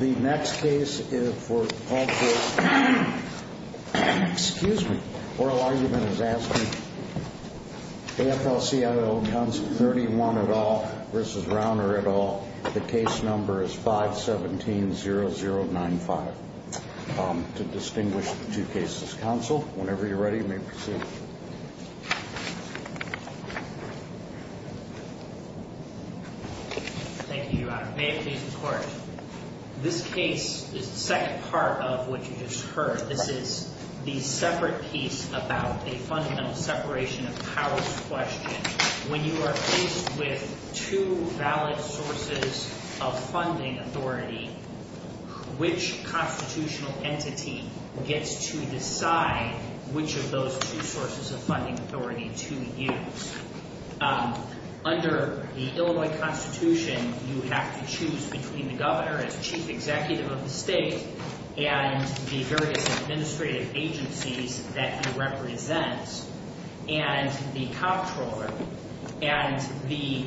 The next case is for, excuse me, Oral Argument is asking AFL-CIO, Council 31 et al. v. Rauner et al. The case number is 517-0095. To distinguish the two cases. Council, whenever you're ready, you may proceed. Thank you, Your Honor. May it please the Court. This case is the second part of what you just heard. This is the separate piece about a fundamental separation of powers question. When you are faced with two valid sources of funding authority, which constitutional entity gets to decide which of those two sources of funding authority to use. Under the Illinois Constitution, you have to choose between the governor as chief executive of the state and the various administrative agencies that he represents and the comptroller. And the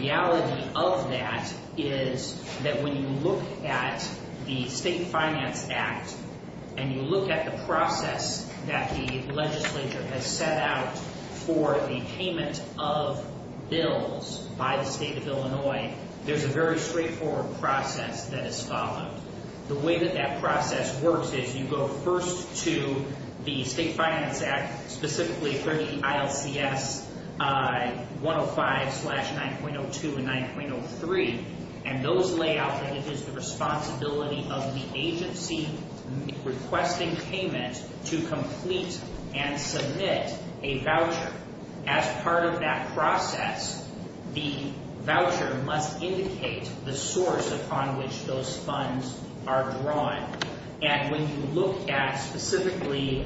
reality of that is that when you look at the State Finance Act, and you look at the process that the legislature has set out for the payment of bills by the state of Illinois, there's a very straightforward process that is followed. The way that that process works is you go first to the State Finance Act, specifically 30 ILCS 105-9.02 and 9.03, and those lay out that it is the responsibility of the agency requesting payment to complete and submit a voucher. As part of that process, the voucher must indicate the source upon which those funds are drawn. And when you look at specifically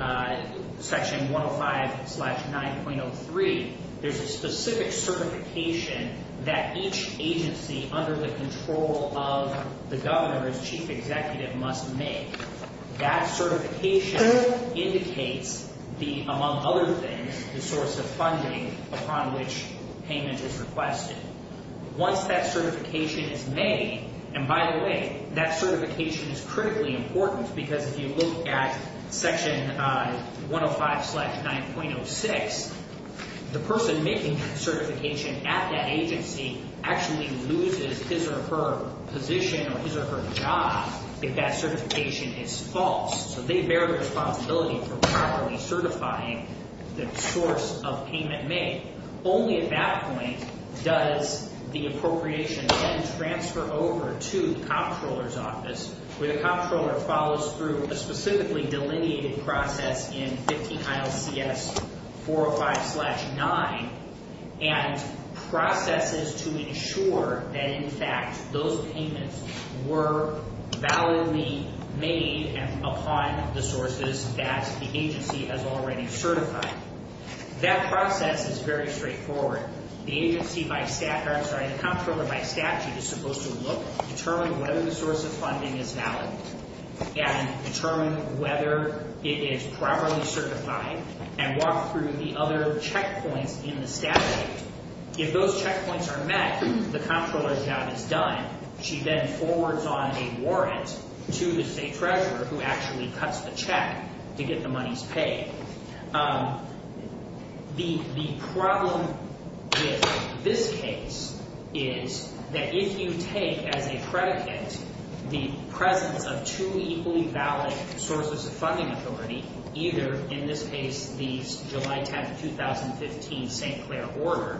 section 105-9.03, there's a specific certification that each agency under the control of the governor's chief executive must make. That certification indicates the, among other things, the source of funding upon which payment is requested. Once that certification is made, and by the way, that certification is critically important because if you look at section 105-9.06, the person making that certification at that agency actually loses his or her position or his or her job if that certification is false. So they bear the responsibility for properly certifying the source of payment made. Only at that point does the appropriation then transfer over to the comptroller's office, where the comptroller follows through a specifically delineated process in 50 ILCS 405-9, and processes to ensure that, in fact, those payments were validly made upon the sources that the agency has already certified. That process is very straightforward. The agency by statute is supposed to look, determine whether the source of funding is valid, and determine whether it is properly certified, and walk through the other checkpoints in the statute. If those checkpoints are met, the comptroller's job is done. She then forwards on a warrant to the state treasurer, who actually cuts the check to get the money's pay. The problem with this case is that if you take as a predicate the presence of two equally valid sources of funding authority, either, in this case, the July 10, 2015 St. Clair order,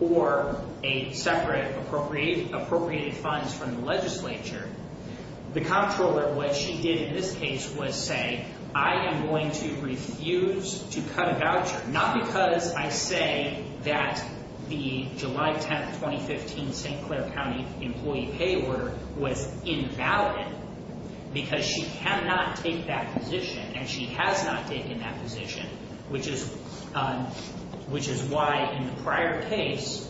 or a separate appropriated funds from the legislature, the comptroller, what she did in this case was say, I am going to refuse to cut a voucher, not because I say that the July 10, 2015 St. Clair County employee pay order was invalid, because she cannot take that position, and she has not taken that position, which is why, in the prior case,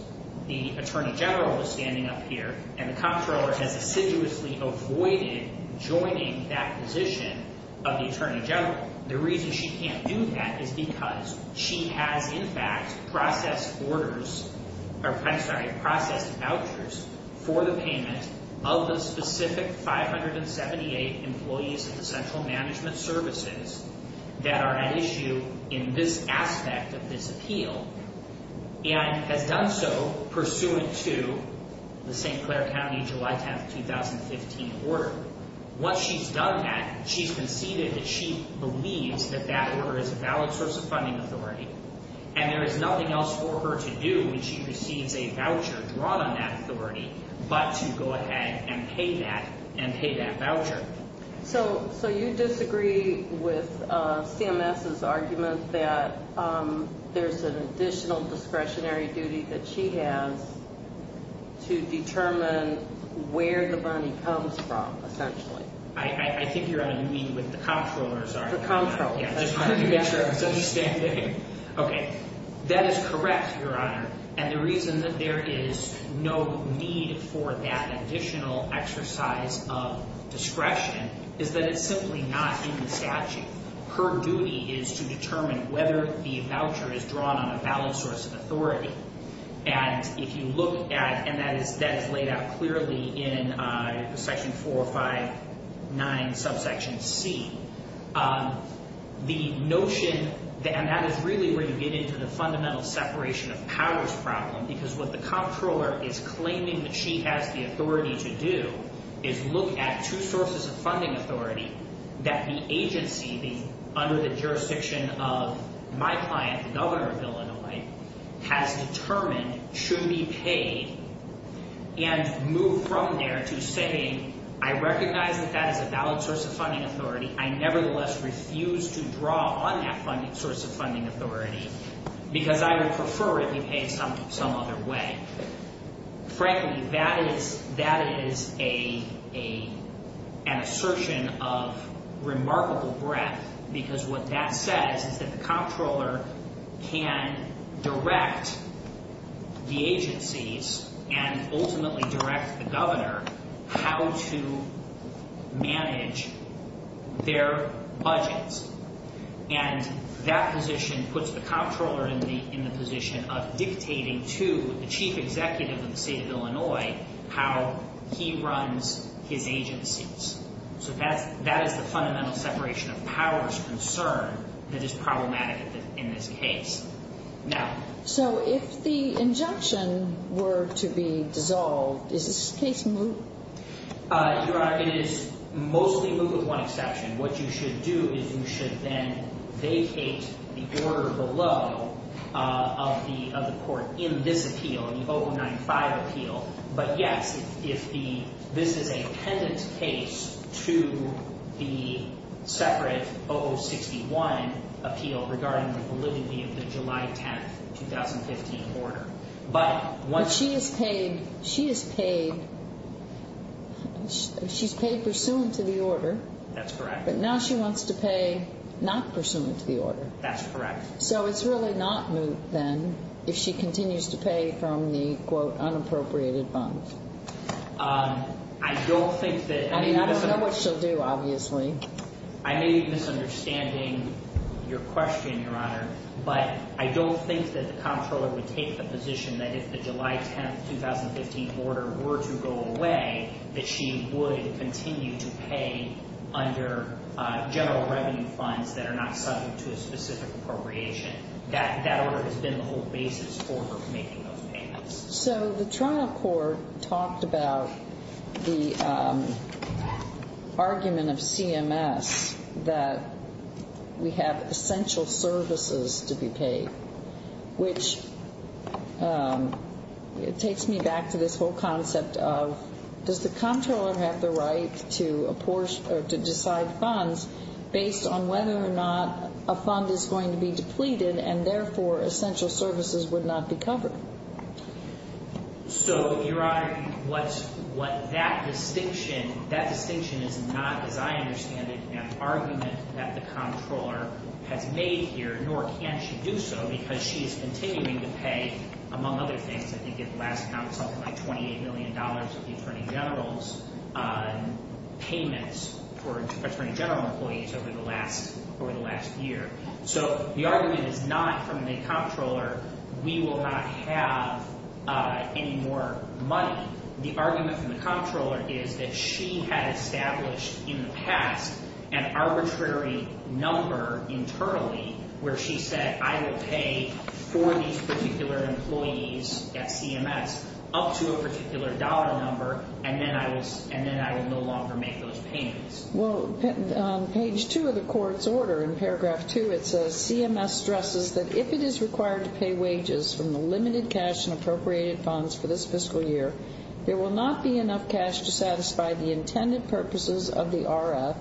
the attorney general was standing up here, and the comptroller has assiduously avoided joining that position of the attorney general. The reason she can't do that is because she has, in fact, processed vouchers for the payment of the specific 578 employees of the central management services that are at issue in this aspect of this appeal, and has done so pursuant to the St. Clair County July 10, 2015 order. Once she's done that, she's conceded that she believes that that order is a valid source of funding authority, and there is nothing else for her to do when she receives a voucher drawn on that authority, but to go ahead and pay that, and pay that voucher. So you disagree with CMS's argument that there's an additional discretionary duty that she has to determine where the money comes from, essentially? I think you're on a meeting with the comptroller, sorry. The comptroller. Yeah, just wanted to make sure I was understanding. Okay, that is correct, Your Honor, and the reason that there is no need for that additional exercise of discretion is that it's simply not in the statute. Her duty is to determine whether the voucher is drawn on a valid source of authority, and if you look at, and that is laid out clearly in section 459 subsection C, the notion, and that is really where you get into the fundamental separation of powers problem, because what the comptroller is claiming that she has the authority to do is look at two sources of funding authority that the agency, under the jurisdiction of my client, the Governor of Illinois, has determined should be paid, and move from there to saying, I recognize that that is a valid source of funding authority. I nevertheless refuse to draw on that source of funding authority because I would prefer it be paid some other way. Frankly, that is an assertion of remarkable breadth, because what that says is that the comptroller can direct the agencies and ultimately direct the Governor how to manage their budgets, and that position puts the comptroller in the position of dictating to the Chief Executive of the State of Illinois how he runs his agencies. So that is the fundamental separation of powers concern that is problematic in this case. So if the injunction were to be dissolved, is this case moot? Your Honor, it is mostly moot with one exception. What you should do is you should then vacate the order below of the court in this appeal, in the 095 appeal. But yes, if this is a pendant case to the separate 061 appeal regarding the validity of the July 10, 2015 order. But she is paid pursuant to the order. That's correct. But now she wants to pay not pursuant to the order. That's correct. So it's really not moot, then, if she continues to pay from the, quote, unappropriated funds? I don't think that... I mean, I don't know what she'll do, obviously. I may be misunderstanding your question, Your Honor, but I don't think that the comptroller would take the position that if the July 10, 2015 order were to go away, that she would continue to pay under general revenue funds that are not subject to a specific appropriation. That order has been the whole basis for her making those payments. So the trial court talked about the argument of CMS that we have essential services to be paid, which takes me back to this whole concept of, does the comptroller have the right to decide funds based on whether or not a fund is going to be depleted and, therefore, essential services would not be covered? So, Your Honor, what that distinction, that distinction is not, as I understand it, an argument that the comptroller has made here, nor can she do so, because she is continuing to pay, among other things, I think at the last count, something like $28 million of the attorney general's payments for attorney general employees over the last year. So the argument is not, from the comptroller, we will not have any more money. The argument from the comptroller is that she had established in the past an arbitrary number internally where she said, I will pay for these particular employees at CMS up to a particular dollar number, and then I will no longer make those payments. Well, on page 2 of the court's order, in paragraph 2, it says, that if it is required to pay wages from the limited cash and appropriated funds for this fiscal year, there will not be enough cash to satisfy the intended purposes of the RF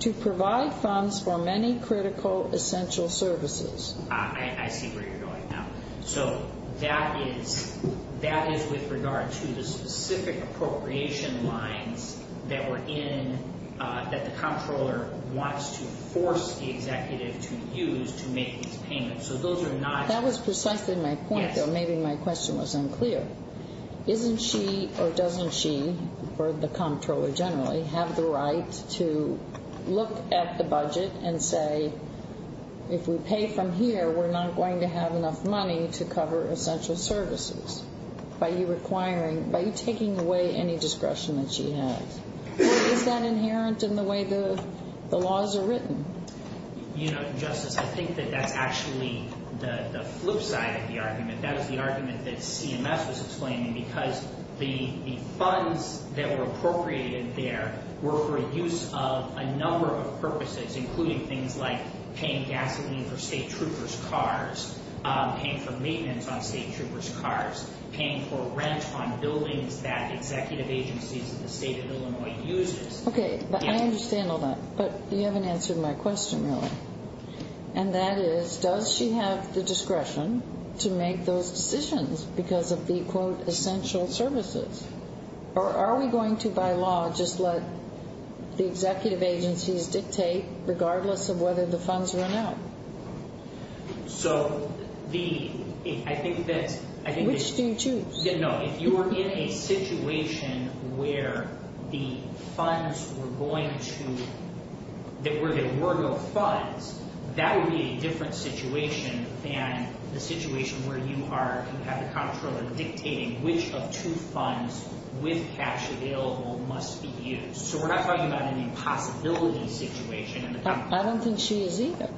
to provide funds for many critical essential services. I see where you're going now. So that is, that is with regard to the specific appropriation lines that were in, that the comptroller wants to force the executive to use to make these payments. So those are not- That was precisely my point, though maybe my question was unclear. Isn't she or doesn't she, or the comptroller generally, have the right to look at the budget and say, if we pay from here, we're not going to have enough money to cover essential services? Are you requiring, are you taking away any discretion that she has? Or is that inherent in the way the laws are written? You know, Justice, I think that that's actually the flip side of the argument. That is the argument that CMS was explaining, because the funds that were appropriated there were for use of a number of purposes, including things like paying gasoline for state troopers' cars, paying for rent on buildings that executive agencies in the state of Illinois uses. Okay, I understand all that. But you haven't answered my question, really. And that is, does she have the discretion to make those decisions because of the, quote, essential services? Or are we going to, by law, just let the executive agencies dictate, regardless of whether the funds run out? So the, I think that... Which do you choose? No, if you were in a situation where the funds were going to, that were the IWRGO funds, that would be a different situation than the situation where you are, you have the comptroller dictating which of two funds, with cash available, must be used. So we're not talking about an impossibility situation. I don't think she is either.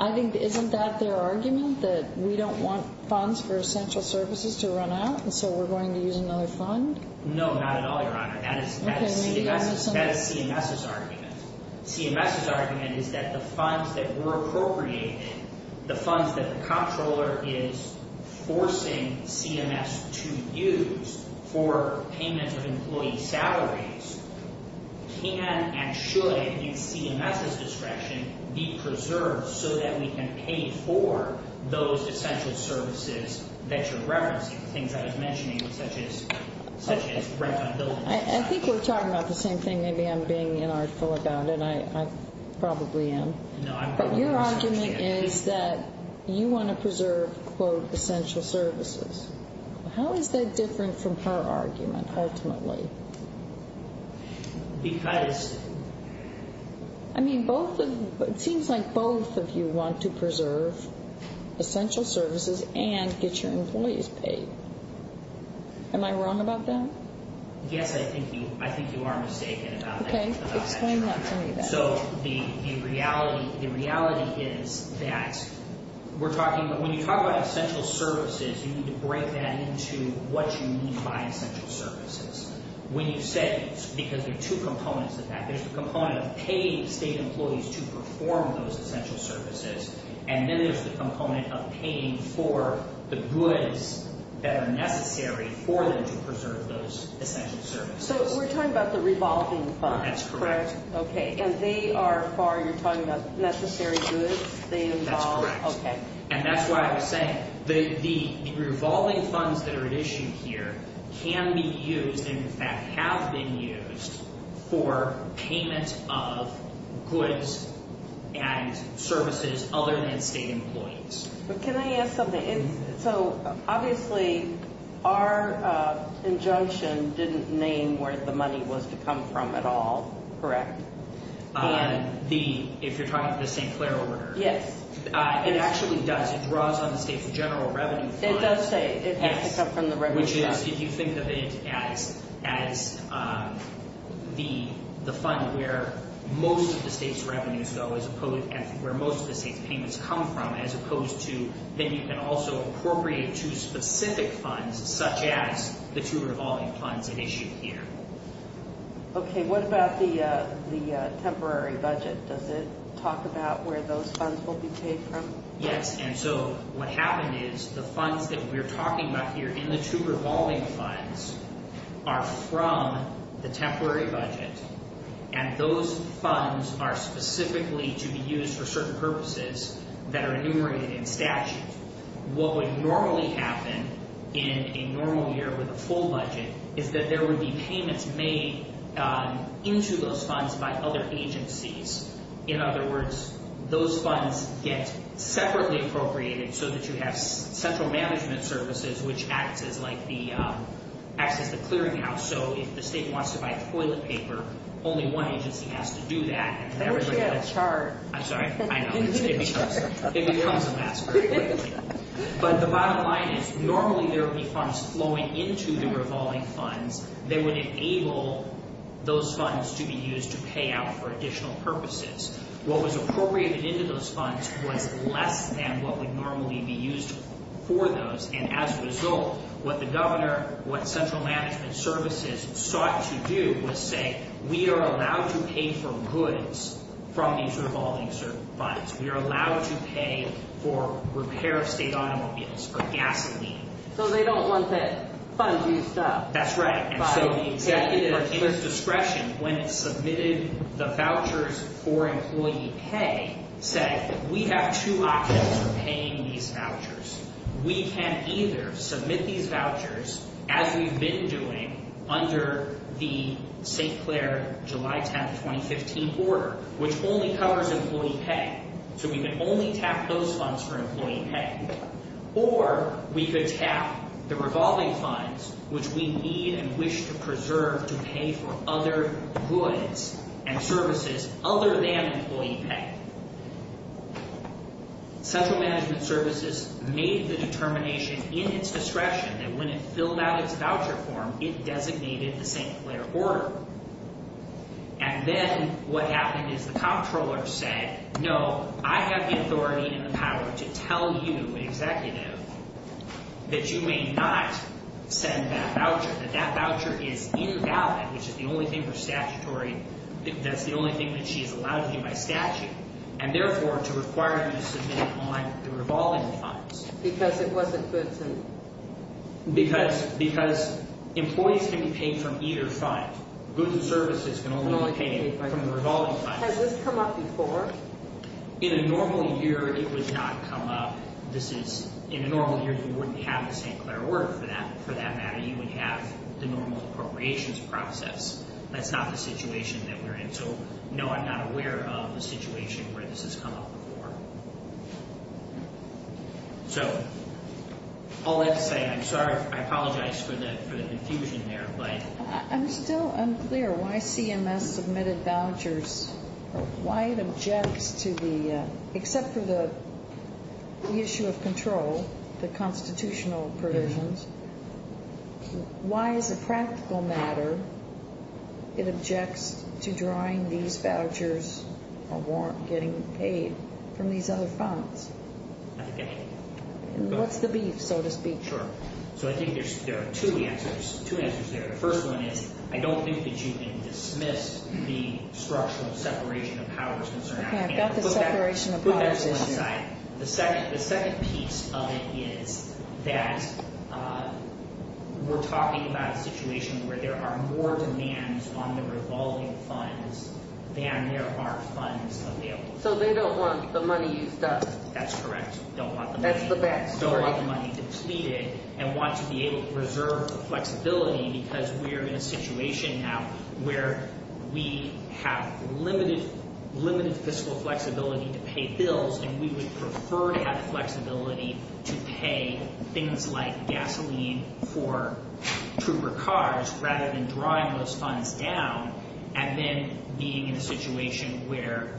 I think, isn't that their argument, that we don't want funds for essential services to run out, and so we're going to use another fund? No, not at all, Your Honor. That is CMS's argument. CMS's argument is that the funds that were appropriated, the funds that the comptroller is forcing CMS to use for payment of employee salaries can and should, in CMS's discretion, be preserved so that we can pay for those essential services that you're referencing, the things I was mentioning, such as rent on buildings. I think we're talking about the same thing. Maybe I'm being inartful about it. I probably am. No, I'm not. But your argument is that you want to preserve, quote, essential services. How is that different from her argument, ultimately? Because... I mean, it seems like both of you want to preserve essential services and get your employees paid. Am I wrong about that? Yes, I think you are mistaken about that. Okay, explain that to me then. So the reality is that we're talking about, when you talk about essential services, you need to break that into what you mean by essential services. When you say, because there are two components of that, there's the component of paying state employees to perform those essential services, and then there's the component of paying for the goods that are necessary for them to preserve those essential services. So we're talking about the revolving funds. That's correct. Okay, and they are far, you're talking about necessary goods, they involve... That's correct. Okay. And that's why I was saying, the revolving funds that are at issue here can be used, and in fact have been used, for payment of goods and services other than state employees. But can I ask something? So, obviously, our injunction didn't name where the money was to come from at all, correct? The, if you're talking about the St. Clair order? Yes. It actually does. It draws on the state's general revenue fund. It does say it has to come from the revenue fund. Which is, if you think of it as the fund where most of the state's revenues go, where most of the state's payments come from, as opposed to, then you can also appropriate two specific funds, such as the two revolving funds at issue here. Okay, what about the temporary budget? Does it talk about where those funds will be paid from? Yes, and so what happened is, the funds that we're talking about here, and the two revolving funds, are from the temporary budget, and those funds are specifically to be used for certain purposes that are enumerated in statute. What would normally happen in a normal year with a full budget, is that there would be payments made into those funds by other agencies. In other words, those funds get separately appropriated so that you have central management services, which acts as like the, acts as the clearinghouse. So, if the state wants to buy toilet paper, only one agency has to do that. If everybody had a chart. I'm sorry, I know. It becomes a mess very quickly. But the bottom line is, normally there would be funds flowing into the revolving funds. They would enable those funds to be used to pay out for additional purposes. What was appropriated into those funds was less than what would normally be used for those, and as a result, what the governor, what central management services, sought to do was say, we are allowed to pay for goods from these revolving funds. We are allowed to pay for repair of state automobiles, for gasoline. So, they don't want to fund you stuff. That's right. By the executive discretion, when it submitted the vouchers for employee pay, said, we have two options for paying these vouchers. We can either submit these vouchers, as we've been doing, under the St. Clair July 10, 2015 order, which only covers employee pay. So, we can only tap those funds for employee pay, or we could tap the revolving funds, which we need and wish to preserve to pay for other goods and services other than employee pay. Central management services made the determination in its discretion that when it filled out its voucher form, it designated the St. Clair order. And then, what happened is the comptroller said, no, I have the authority and the power to tell you, executive, that you may not send that voucher, that that voucher is invalid, which is the only thing for statutory, that's the only thing that she's allowed to do by statute, and therefore, to require you to submit it on the revolving funds. Because it wasn't good to... Because employees can be paid from either fund. Goods and services can only be paid from the revolving funds. Has this come up before? In a normal year, it would not come up. In a normal year, you wouldn't have the St. Clair order for that matter. You would have the normal appropriations process. That's not the situation that we're in. So, no, I'm not aware of a situation where this has come up before. So, all that to say, I'm sorry, I apologize for the confusion there, but... I'm still unclear why CMS submitted vouchers, or why it objects to the, except for the issue of control, the constitutional provisions, why, as a practical matter, it objects to drawing these vouchers or getting paid from these other funds. What's the beef, so to speak? Sure. So, I think there are two answers there. The first one is, I don't think that you can dismiss the structural separation of powers concern. I've got the separation of powers issue. The second piece of it is that we're talking about a situation where there are more demands on the revolving funds than there are funds available. So, they don't want the money used up. That's correct. Don't want the money... That's the best. Don't want the money depleted, and want to be able to reserve flexibility because we're in a situation now where we have limited fiscal flexibility to pay bills, and we would prefer to have flexibility to pay things like gasoline for trooper cars rather than drawing those funds down. And then being in a situation where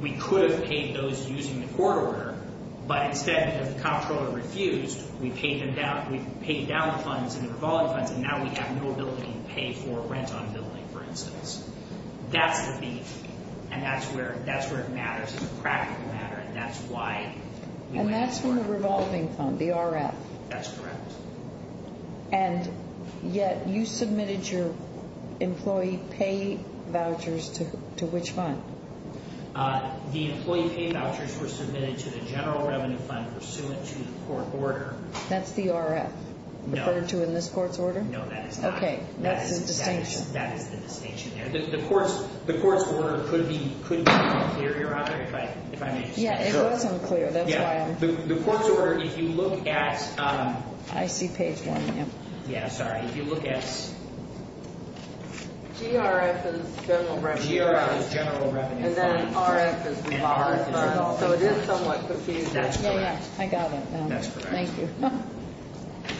we could have paid those using the court order, but instead, because the comptroller refused, we paid down the funds and the revolving funds, and now we have no ability to pay for rent on a building, for instance. That's the beef, and that's where it matters as a practical matter, and that's why... And that's from the revolving fund, the RF. That's correct. And yet, you submitted your employee pay vouchers to which fund? The employee pay vouchers were submitted to the general revenue fund pursuant to the court order. That's the RF? No. Referred to in this court's order? No, that is not. Okay, that's a distinction. That is the distinction there. The court's order could be unclear, Your Honor, if I may just say. Yeah, it was unclear. That's why I'm... The court's order, if you look at... I see page 1, ma'am. Yeah, sorry. If you look at... GRF is general revenue fund. GRF is general revenue fund. And then RF is revolving fund. So it is somewhat confused. That's correct. I got it now. That's correct. Thank you.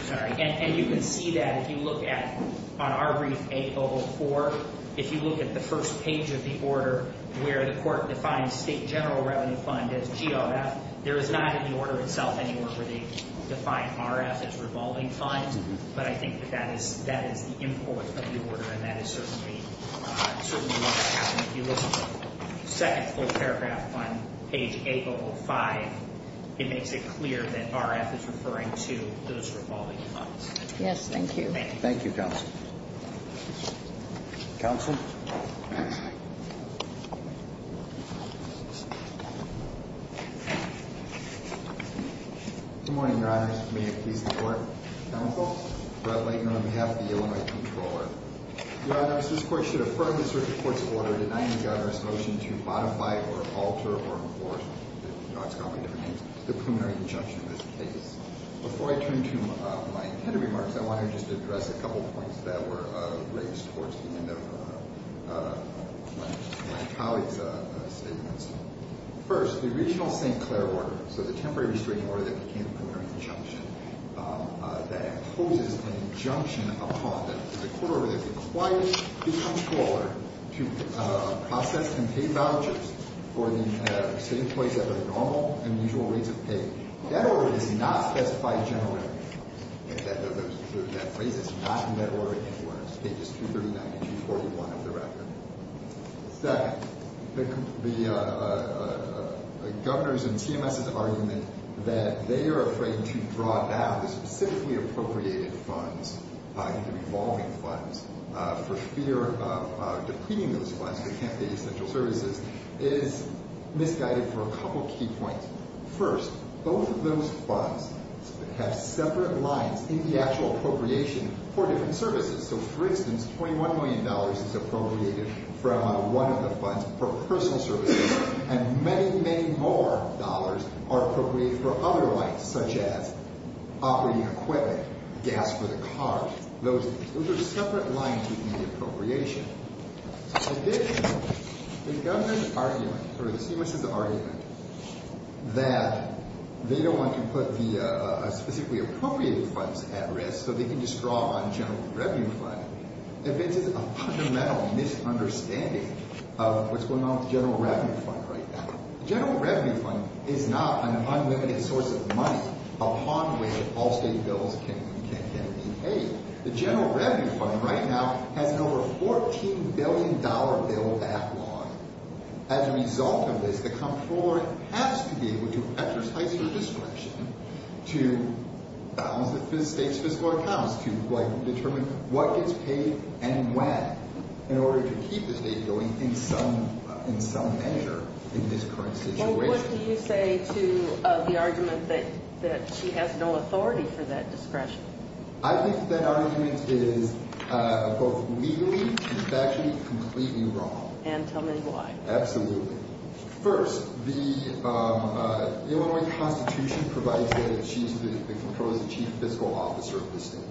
Sorry. And you can see that if you look at, on our brief 804, if you look at the first page of the order where the court defines state general revenue fund as GRF, there is not in the order itself anywhere where they define RF as revolving fund. But I think that is the import of the order, and that is certainly what that is. And if you look at the second full paragraph on page 805, it makes it clear that RF is referring to those revolving funds. Yes, thank you. Thank you, counsel. Counsel. Good morning, Your Honors. May it please the Court. Counsel. Brett Laitner on behalf of the Illinois Comptroller. Your Honors, this Court should affirm the circuit court's order denying the Governor's motion to modify or alter or enforce, you know, it's got a lot of different names, the preliminary injunction of this case. Before I turn to my head of remarks, I want to just address a couple of points that were raised towards the end of my colleague's statements. First, the original St. Clair order, so the temporary restraining order that became the preliminary injunction, that imposes an injunction upon the court order that requires the Comptroller to process and pay vouchers for the sitting employees at the normal and usual rates of pay. That order does not specify general revenue. That phrase is not in that order anywhere. It's pages 239 and 241 of the record. Second, the Governor's and CMS's argument that they are afraid to draw down the specifically appropriated funds, the revolving funds, for fear of depleting those funds, because they can't pay essential services, is misguided for a couple of key points. First, both of those funds have separate lines in the actual appropriation for different services. So, for instance, $21 million is appropriated from one of the funds for personal services. And many, many more dollars are appropriated for other rights, such as operating equipment, gas for the cars. Those are separate lines within the appropriation. Additionally, the Governor's argument, or the CMS's argument, that they don't want to put the specifically appropriated funds at risk so they can just draw on the general revenue fund evinces a fundamental misunderstanding of what's going on with the general revenue fund right now. The general revenue fund is not an unlimited source of money upon which all state bills can be paid. The general revenue fund right now has an over $14 billion bill backlog. As a result of this, the Comptroller has to be able to exercise her discretion to balance the state's fiscal accounts, to determine what gets paid and when, in order to keep the state going in some measure in this current situation. What do you say to the argument that she has no authority for that discretion? I think that argument is both legally and factually completely wrong. And tell me why. Absolutely. First, the Illinois Constitution provides that the Comptroller is the Chief Fiscal Officer of the state.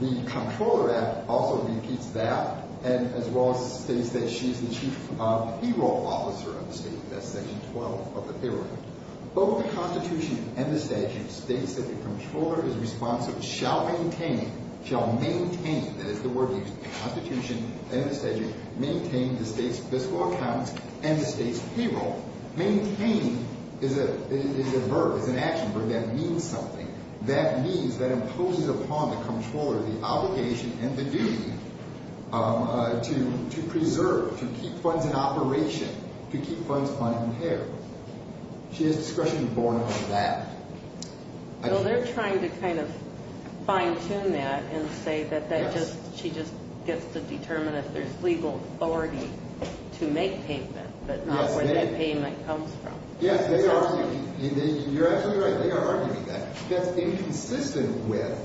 The Comptroller Act also repeats that, as well as states that she's the Chief Payroll Officer of the state. That's Section 12 of the Payroll Act. Both the Constitution and the statute states that the Comptroller is responsible shall maintain, shall maintain, that is the word used, the Constitution and the statute, maintain the state's fiscal accounts and the state's payroll. Maintain is a verb, it's an action verb that means something. That means, that imposes upon the Comptroller the obligation and the duty to preserve, to keep funds in operation, to keep funds unimpaired. She has discretion borne over that. So they're trying to kind of fine-tune that and say that she just gets to determine if there's legal authority to make payment, but not where that payment comes from. Yes, they are. You're absolutely right, they are arguing that. That's inconsistent with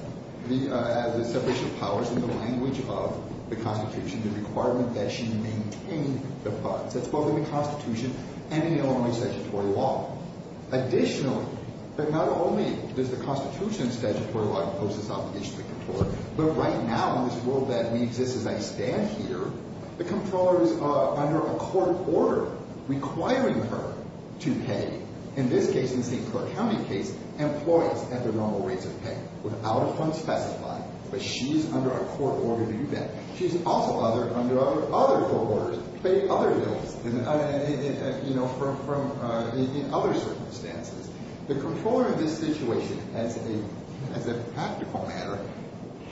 the separation of powers in the language of the Constitution, the requirement that she maintain the funds. That's both in the Constitution and in the Illinois statutory law. Additionally, but not only does the Constitution and statutory law impose this obligation to the Comptroller, but right now in this world that we exist as I stand here, the Comptroller is under a court order requiring her to pay, in this case, in the St. Clair County case, employees at the normal rates of pay, without a fund specified, but she's under a court order to do that. She's also under other court orders to pay other bills in other circumstances. The Comptroller in this situation, as a practical matter,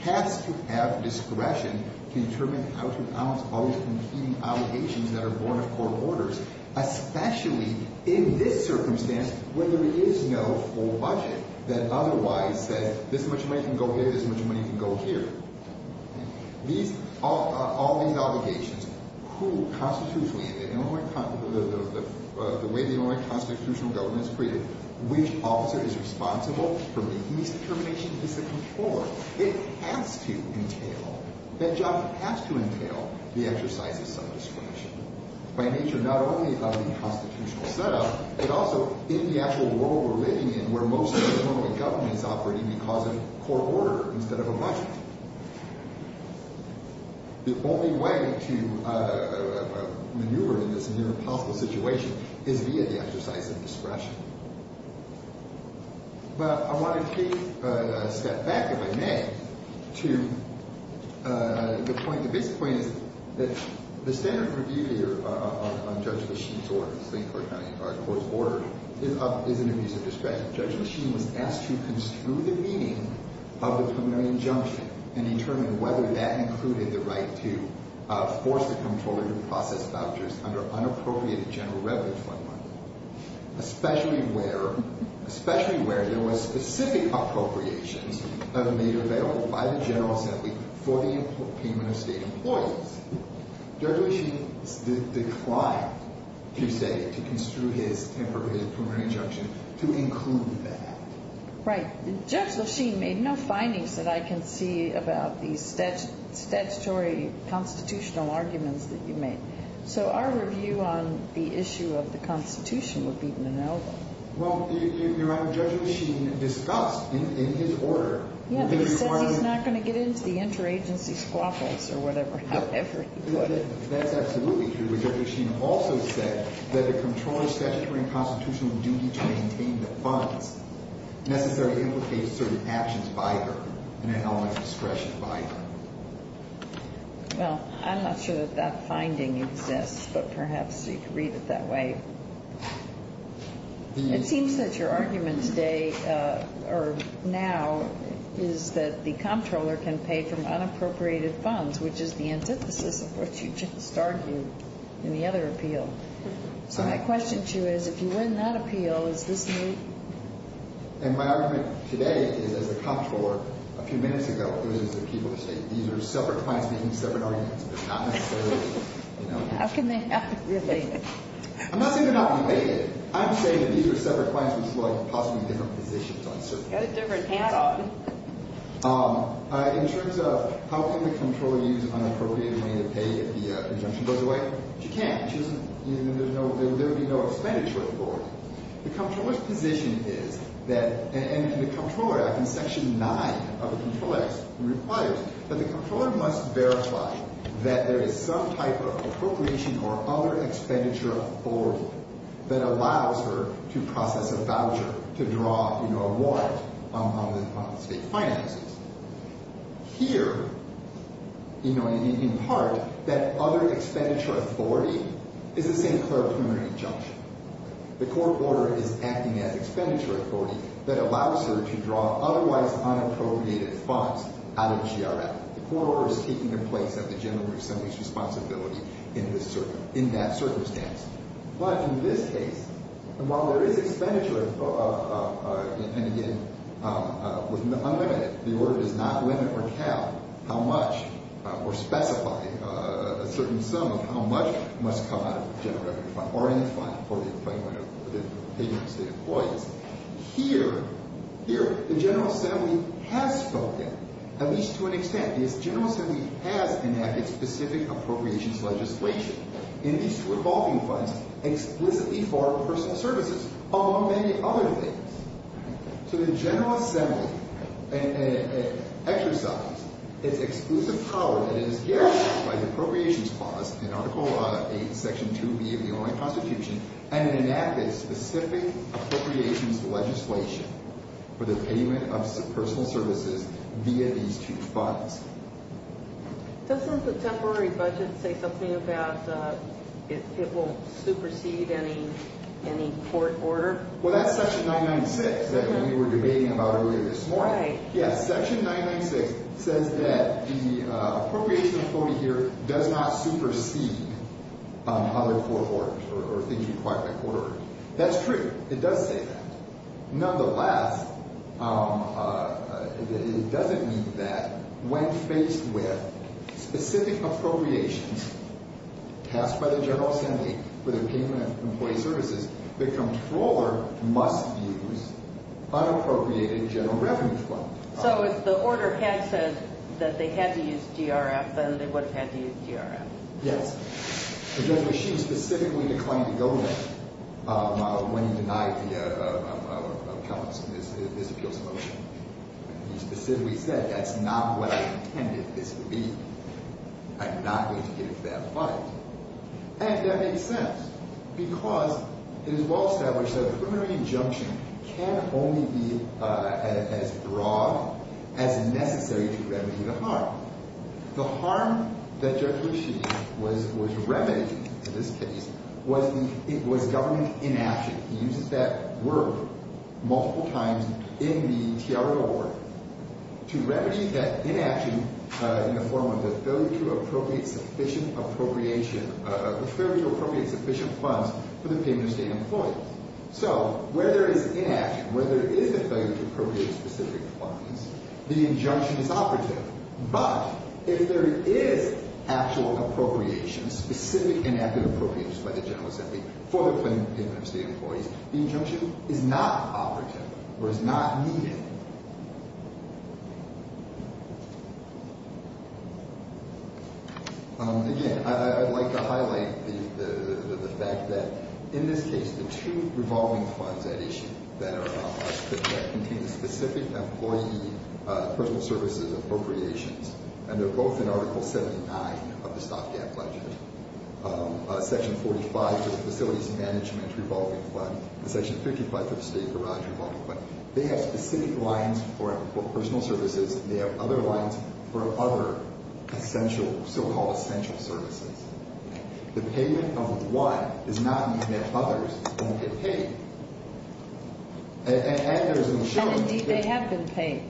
has to have discretion to determine how to balance all these competing obligations that are borne of court orders, especially in this circumstance where there is no full budget that otherwise says this much money can go here, this much money can go here. All these obligations, who constitutionally, the way the Illinois constitutional government is created, which officer is responsible for making these determinations is the Comptroller. It has to entail, that job has to entail the exercise of some discretion by nature not only of the constitutional setup, but also in the actual world we're living in where most of the Illinois government is operating because of court order instead of a budget. The only way to maneuver in this near impossible situation is via the exercise of discretion. But I want to take a step back, if I may, to the point, the basic point is that the standard review here on Judge Lachine's order, the St. Clair County Court's order, is an abuse of discretion. Judge Lachine was asked to construe the meaning of the preliminary injunction and determine whether that included the right to force the Comptroller to process vouchers under unappropriated general revenue fund money. Especially where there was specific appropriations made available by the General Assembly for the payment of state employees. Judge Lachine declined to say, to construe his temporary injunction to include that. Right. Judge Lachine made no findings that I can see about the statutory constitutional arguments that you made. So our review on the issue of the Constitution would be to know them. Well, Your Honor, Judge Lachine discussed in his order. Yeah, but he said he's not going to get into the interagency squabbles or whatever, however he would. That's absolutely true. Judge Lachine also said that the Comptroller's statutory and constitutional duty to maintain the funds necessarily implicates certain actions by her and an element of discretion by her. Well, I'm not sure that that finding exists, but perhaps you could read it that way. It seems that your argument today, or now, is that the Comptroller can pay from unappropriated funds, which is the antithesis of what you just argued in the other appeal. So my question to you is, if you win that appeal, is this the way? And my argument today is, as the Comptroller, a few minutes ago, it was the people who said, these are separate clients making separate arguments, but not necessarily, you know. How can they have it related? I'm not saying they're not related. I'm saying that these are separate clients, which is like possibly different positions on certain things. Got a different handle. In terms of how can the Comptroller use unappropriated money to pay if the injunction goes away? She can't. There would be no expenditure authority. The Comptroller's position is that, and the Comptroller Act, in Section 9 of the Comptroller's, requires that the Comptroller must verify that there is some type of appropriation or other expenditure authority that allows her to process a voucher to draw, you know, a warrant on state finances. Here, you know, in part, that other expenditure authority is the same clerical injunction. The Comptroller is acting as expenditure authority that allows her to draw otherwise unappropriated funds out of the GRF. The Comptroller is taking the place of the General Assembly's responsibility in that circumstance. But in this case, while there is expenditure, and again, with unlimited, the order does not limit or cap how much or specify a certain sum of how much must come out of the General Revenue Fund or any fund for the payment of payment to state employees. Here, the General Assembly has spoken, at least to an extent. The General Assembly has enacted specific appropriations legislation in these revolving funds explicitly for personal services, among many other things. So the General Assembly exercised its exclusive power that is guaranteed by the Appropriations Clause in Article 8, Section 2B of the Illinois Constitution, and it enacted specific appropriations legislation for the payment of personal services via these two funds. Doesn't the temporary budget say something about it won't supersede any court order? Well, that's Section 996 that we were debating about earlier this morning. Yes, Section 996 says that the appropriation authority here does not supersede other court orders or things required by court orders. That's true. It does say that. Nonetheless, it doesn't mean that when faced with specific appropriations tasked by the General Assembly for the payment of employee services, the Comptroller must use unappropriated General Revenue Fund. So if the order had said that they had to use GRF, then they would have had to use GRF. Yes. But then she specifically declined to go there when he denied the comments in this appeals motion. He specifically said, that's not what I intended this would be. I'm not going to get into that fight. And that makes sense, because it is well established that a preliminary injunction can only be as broad as necessary to remedy the harm. The harm that Jack Lucey was remedying in this case was government inaction. He uses that word multiple times in the Tiago Award to remedy that inaction in the form of the failure to appropriate sufficient funds for the payment of state employees. So where there is inaction, where there is a failure to appropriate specific funds, the injunction is operative. But if there is actual appropriation, specific inactive appropriations by the General Assembly for the payment of state employees, the injunction is not operative or is not needed. Again, I'd like to highlight the fact that in this case, the two revolving funds at issue that contain the specific employee personal services appropriations, and they're both in Article 79 of the StopGap Legislature, Section 45 for the Facilities Management Revolving Fund, and Section 55 for the State Garage Revolving Fund. They have specific lines for personal services, and they have other lines for other essential, so-called essential services. The payment of one does not mean that others don't get paid. And there is an issue that they don't get paid. And, indeed, they have been paid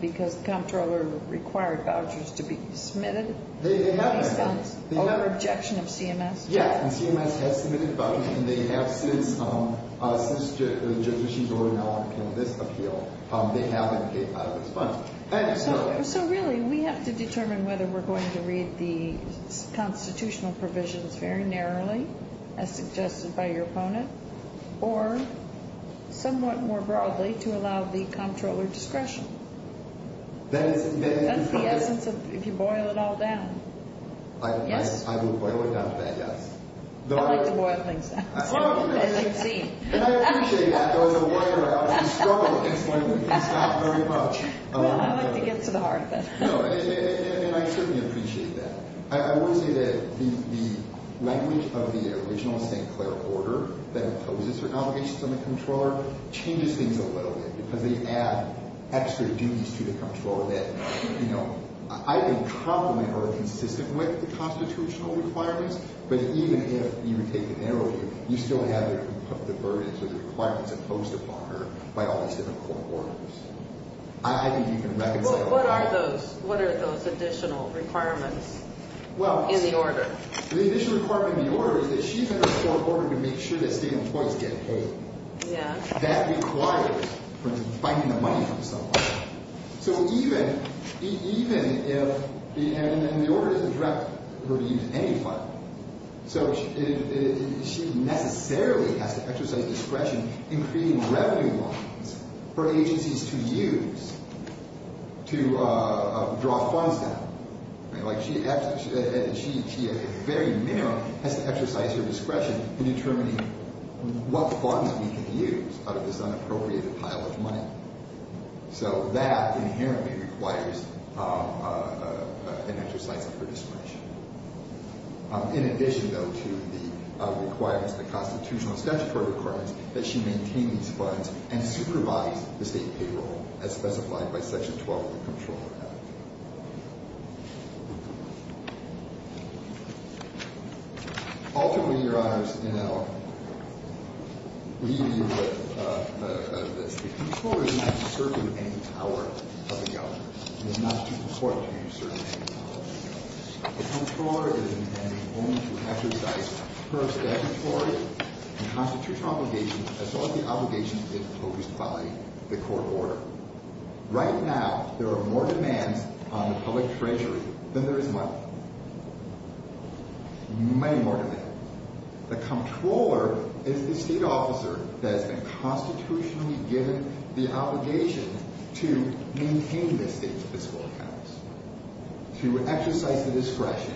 because the Comptroller required vouchers to be submitted. They have been. Over objection of CMS. Yeah. And CMS has submitted vouchers, and they have since the Judiciary Board now underpinned this appeal. They have been paid out of this fund. So, really, we have to determine whether we're going to read the constitutional provisions very narrowly, as suggested by your opponent, or somewhat more broadly to allow the Comptroller discretion. That's the essence of if you boil it all down. Yes. I would boil it down to that, yes. I like to boil things down. And I appreciate that, though, as a lawyer, I often struggle against one of them. It's not very much. Well, I like to get to the heart of it. No, and I certainly appreciate that. I would say that the language of the original St. Clair order that imposes certain obligations on the Comptroller changes things a little bit, because they add extra duties to the Comptroller that, you know, I think complement or are consistent with the constitutional requirements. But even if you take it narrowly, you still have the burdens or the requirements imposed upon her by all these different court orders. I think you can reconcile that. Well, what are those additional requirements in the order? Well, the additional requirement in the order is that she's under a court order to make sure that state employees get paid. Yeah. That requires, for instance, finding the money from someone. So even if the order doesn't direct her to use any funds, so she necessarily has to exercise discretion in creating revenue lines for agencies to use to draw funds down. Like she at the very minimum has to exercise her discretion in determining what funds we can use out of this unappropriated pile of money. So that inherently requires an exercise of her discretion. In addition, though, to the requirements, the constitutional statutory requirements, that she maintain these funds and supervise the state payroll as specified by Section 12 of the Comptroller Act. Ultimately, Your Honors, in our review of this, the Comptroller is not discerning any power of the Governor. It is not too important to discern any power of the Governor. The Comptroller is intending only to exercise her statutory and constitutional obligations as well as the obligations imposed by the court order. Right now, there are more demands on the public treasury than there is money. Many more demands. The Comptroller is the state officer that has been constitutionally given the obligation to maintain the state's fiscal accounts, to exercise the discretion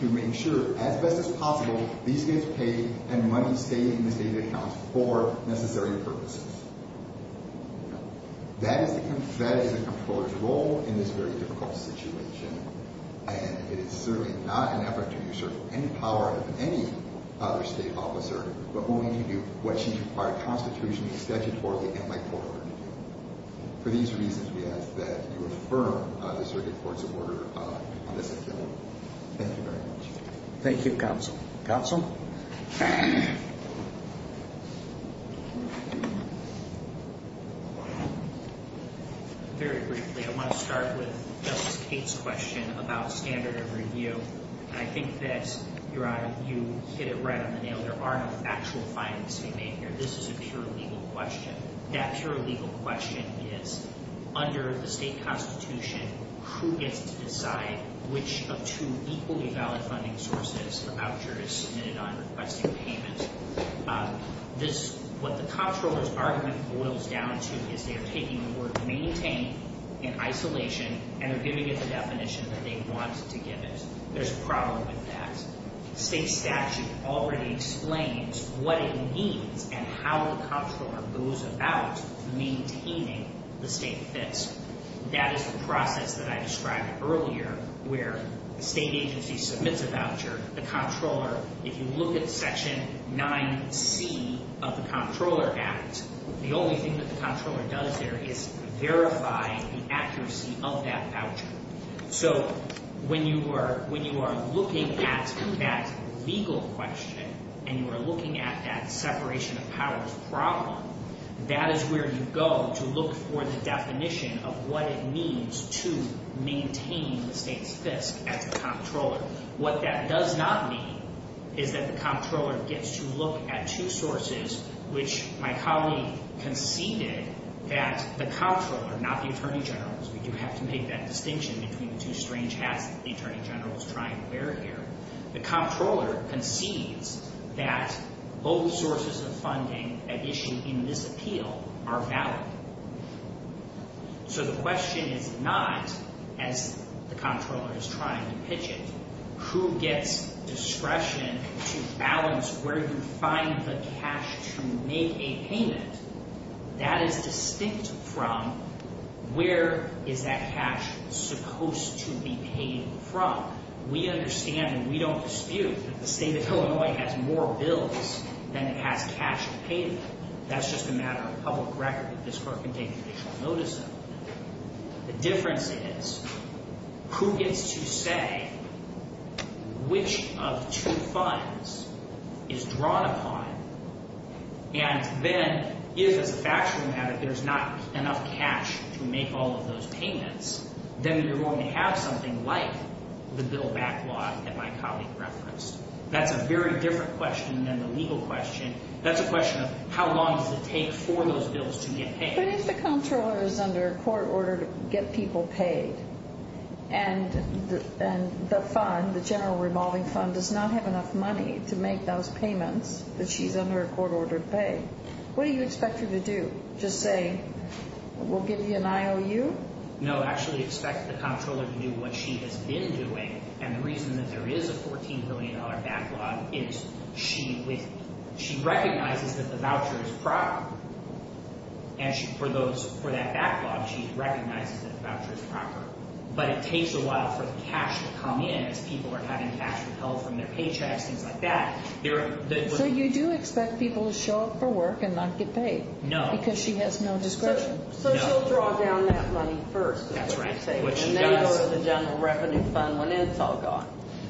to make sure, as best as possible, these get paid and money stays in the state accounts for necessary purposes. That is the Comptroller's role in this very difficult situation, and it is certainly not an effort to discern any power of any other state officer but only to do what she required constitutionally, statutorily, and by court order to do. For these reasons, we ask that you affirm the Circuit Court's order on this agenda. Thank you very much. Thank you, Counsel. Counsel? Very briefly, I want to start with Justice Kate's question about standard of review. I think that, Your Honor, you hit it right on the nail. There are no actual findings to be made here. This is a pure legal question. That pure legal question is, under the state constitution, who gets to decide which of two equally valid funding sources the voucher is submitted on requesting payment? What the Comptroller's argument boils down to is they're taking the word maintain in isolation, and they're giving it the definition that they want to give it. There's a problem with that. State statute already explains what it means and how the Comptroller goes about maintaining the state fits. That is the process that I described earlier where the state agency submits a voucher. The Comptroller, if you look at Section 9C of the Comptroller Act, the only thing that the Comptroller does there is verify the accuracy of that voucher. So when you are looking at that legal question and you are looking at that separation of powers problem, that is where you go to look for the definition of what it means to maintain the state's FISC as a Comptroller. What that does not mean is that the Comptroller gets to look at two sources which my colleague conceded that the Comptroller, not the Attorney General, because you have to make that distinction between the two strange hats that the Attorney General is trying to wear here. The Comptroller concedes that both sources of funding at issue in this appeal are valid. So the question is not, as the Comptroller is trying to pitch it, who gets discretion to balance where you find the cash to make a payment. That is distinct from where is that cash supposed to be paid from. We understand and we don't dispute that the state of Illinois has more bills than it has cash to pay them. That is just a matter of public record that this court can take additional notice of. The difference is who gets to say which of two funds is drawn upon and then if, as a factual matter, there is not enough cash to make all of those payments, then you are going to have something like the bill backlog that my colleague referenced. That is a very different question than the legal question. That is a question of how long does it take for those bills to get paid. But if the Comptroller is under a court order to get people paid and the fund, the general revolving fund, does not have enough money to make those payments that she is under a court order to pay, what do you expect her to do? Just say, we will give you an IOU? No, actually expect the Comptroller to do what she has been doing and the reason that there is a $14 million backlog is she recognizes that the voucher is proper. For that backlog, she recognizes that the voucher is proper. But it takes a while for the cash to come in as people are having cash withheld from their paychecks, things like that. So you do expect people to show up for work and not get paid? No. Because she has no discretion? No. So she will draw down that money first? That is right. And then go to the general revenue fund when it is all gone?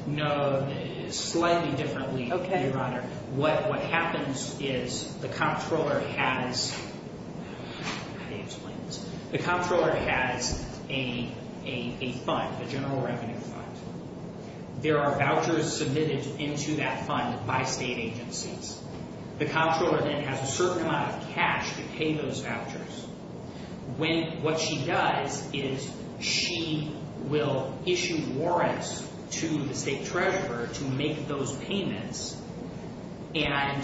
No, slightly differently, Your Honor. What happens is the Comptroller has a fund, a general revenue fund. There are vouchers submitted into that fund by state agencies. The Comptroller then has a certain amount of cash to pay those vouchers. What she does is she will issue warrants to the state treasurer to make those payments and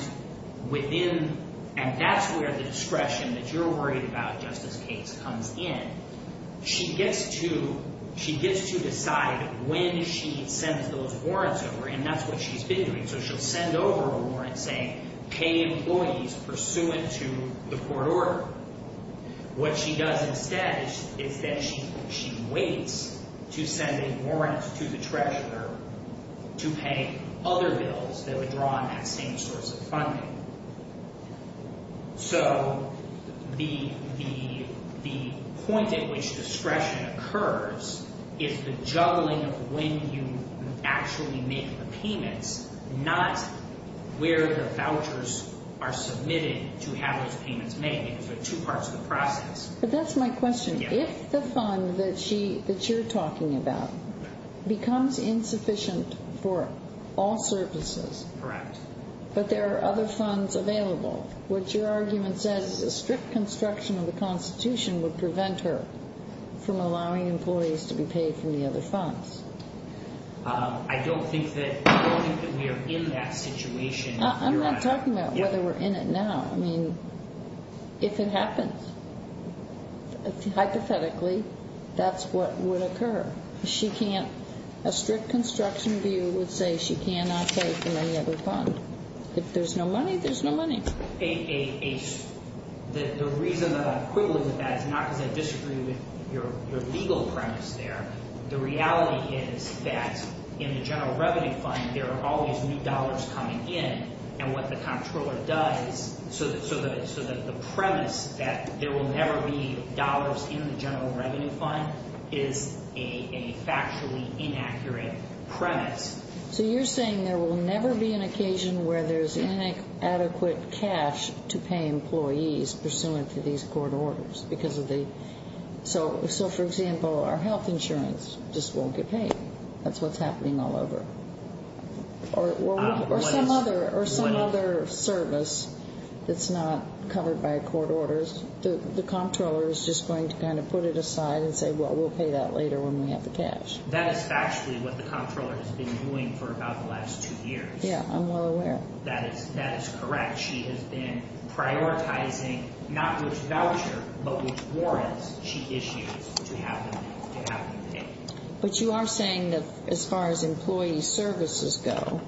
that is where the discretion that you are worried about, Justice Cates, comes in. She gets to decide when she sends those warrants over and that is what she has been doing. So she will send over a warrant saying pay employees pursuant to the court order. What she does instead is that she waits to send a warrant to the treasurer to pay other bills that would draw on that same source of funding. So the point at which discretion occurs is the juggling of when you actually make the payments not where the vouchers are submitted to have those payments made because there are two parts of the process. But that is my question. If the fund that you are talking about becomes insufficient for all services Correct. But there are other funds available. What your argument says is a strict construction of the Constitution would prevent her from allowing employees to be paid from the other funds. I don't think that we are in that situation. I am not talking about whether we are in it now. I mean, if it happens, hypothetically, that is what would occur. A strict construction view would say she cannot pay from any other fund. If there is no money, there is no money. The reason that I am quibbling with that is not because I disagree with your legal premise there. The reality is that in the general revenue fund, there are always new dollars coming in and what the comptroller does so that the premise that there will never be dollars in the general revenue fund is a factually inaccurate premise. So you are saying there will never be an occasion where there is inadequate cash to pay employees pursuant to these court orders. So, for example, our health insurance just won't get paid. That is what is happening all over. Or some other service that is not covered by court orders. So the comptroller is just going to kind of put it aside and say, well, we will pay that later when we have the cash. That is factually what the comptroller has been doing for about the last two years. Yes, I am well aware. That is correct. She has been prioritizing not which voucher but which warrants she issues to have them pay. But you are saying that as far as employee services go,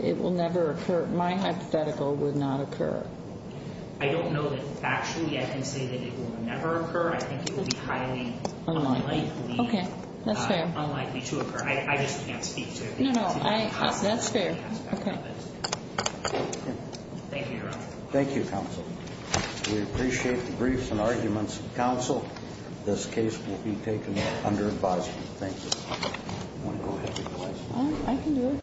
it will never occur. My hypothetical would not occur. I don't know that factually I can say that it will never occur. I think it will be highly unlikely. Okay. That is fair. Unlikely to occur. I just can't speak to it. No, no. That is fair. Okay. Thank you, Your Honor. Thank you, counsel. We appreciate the briefs and arguments. Counsel, this case will be taken under advisement. Thank you. Do you want to go ahead with your advice? I can do it.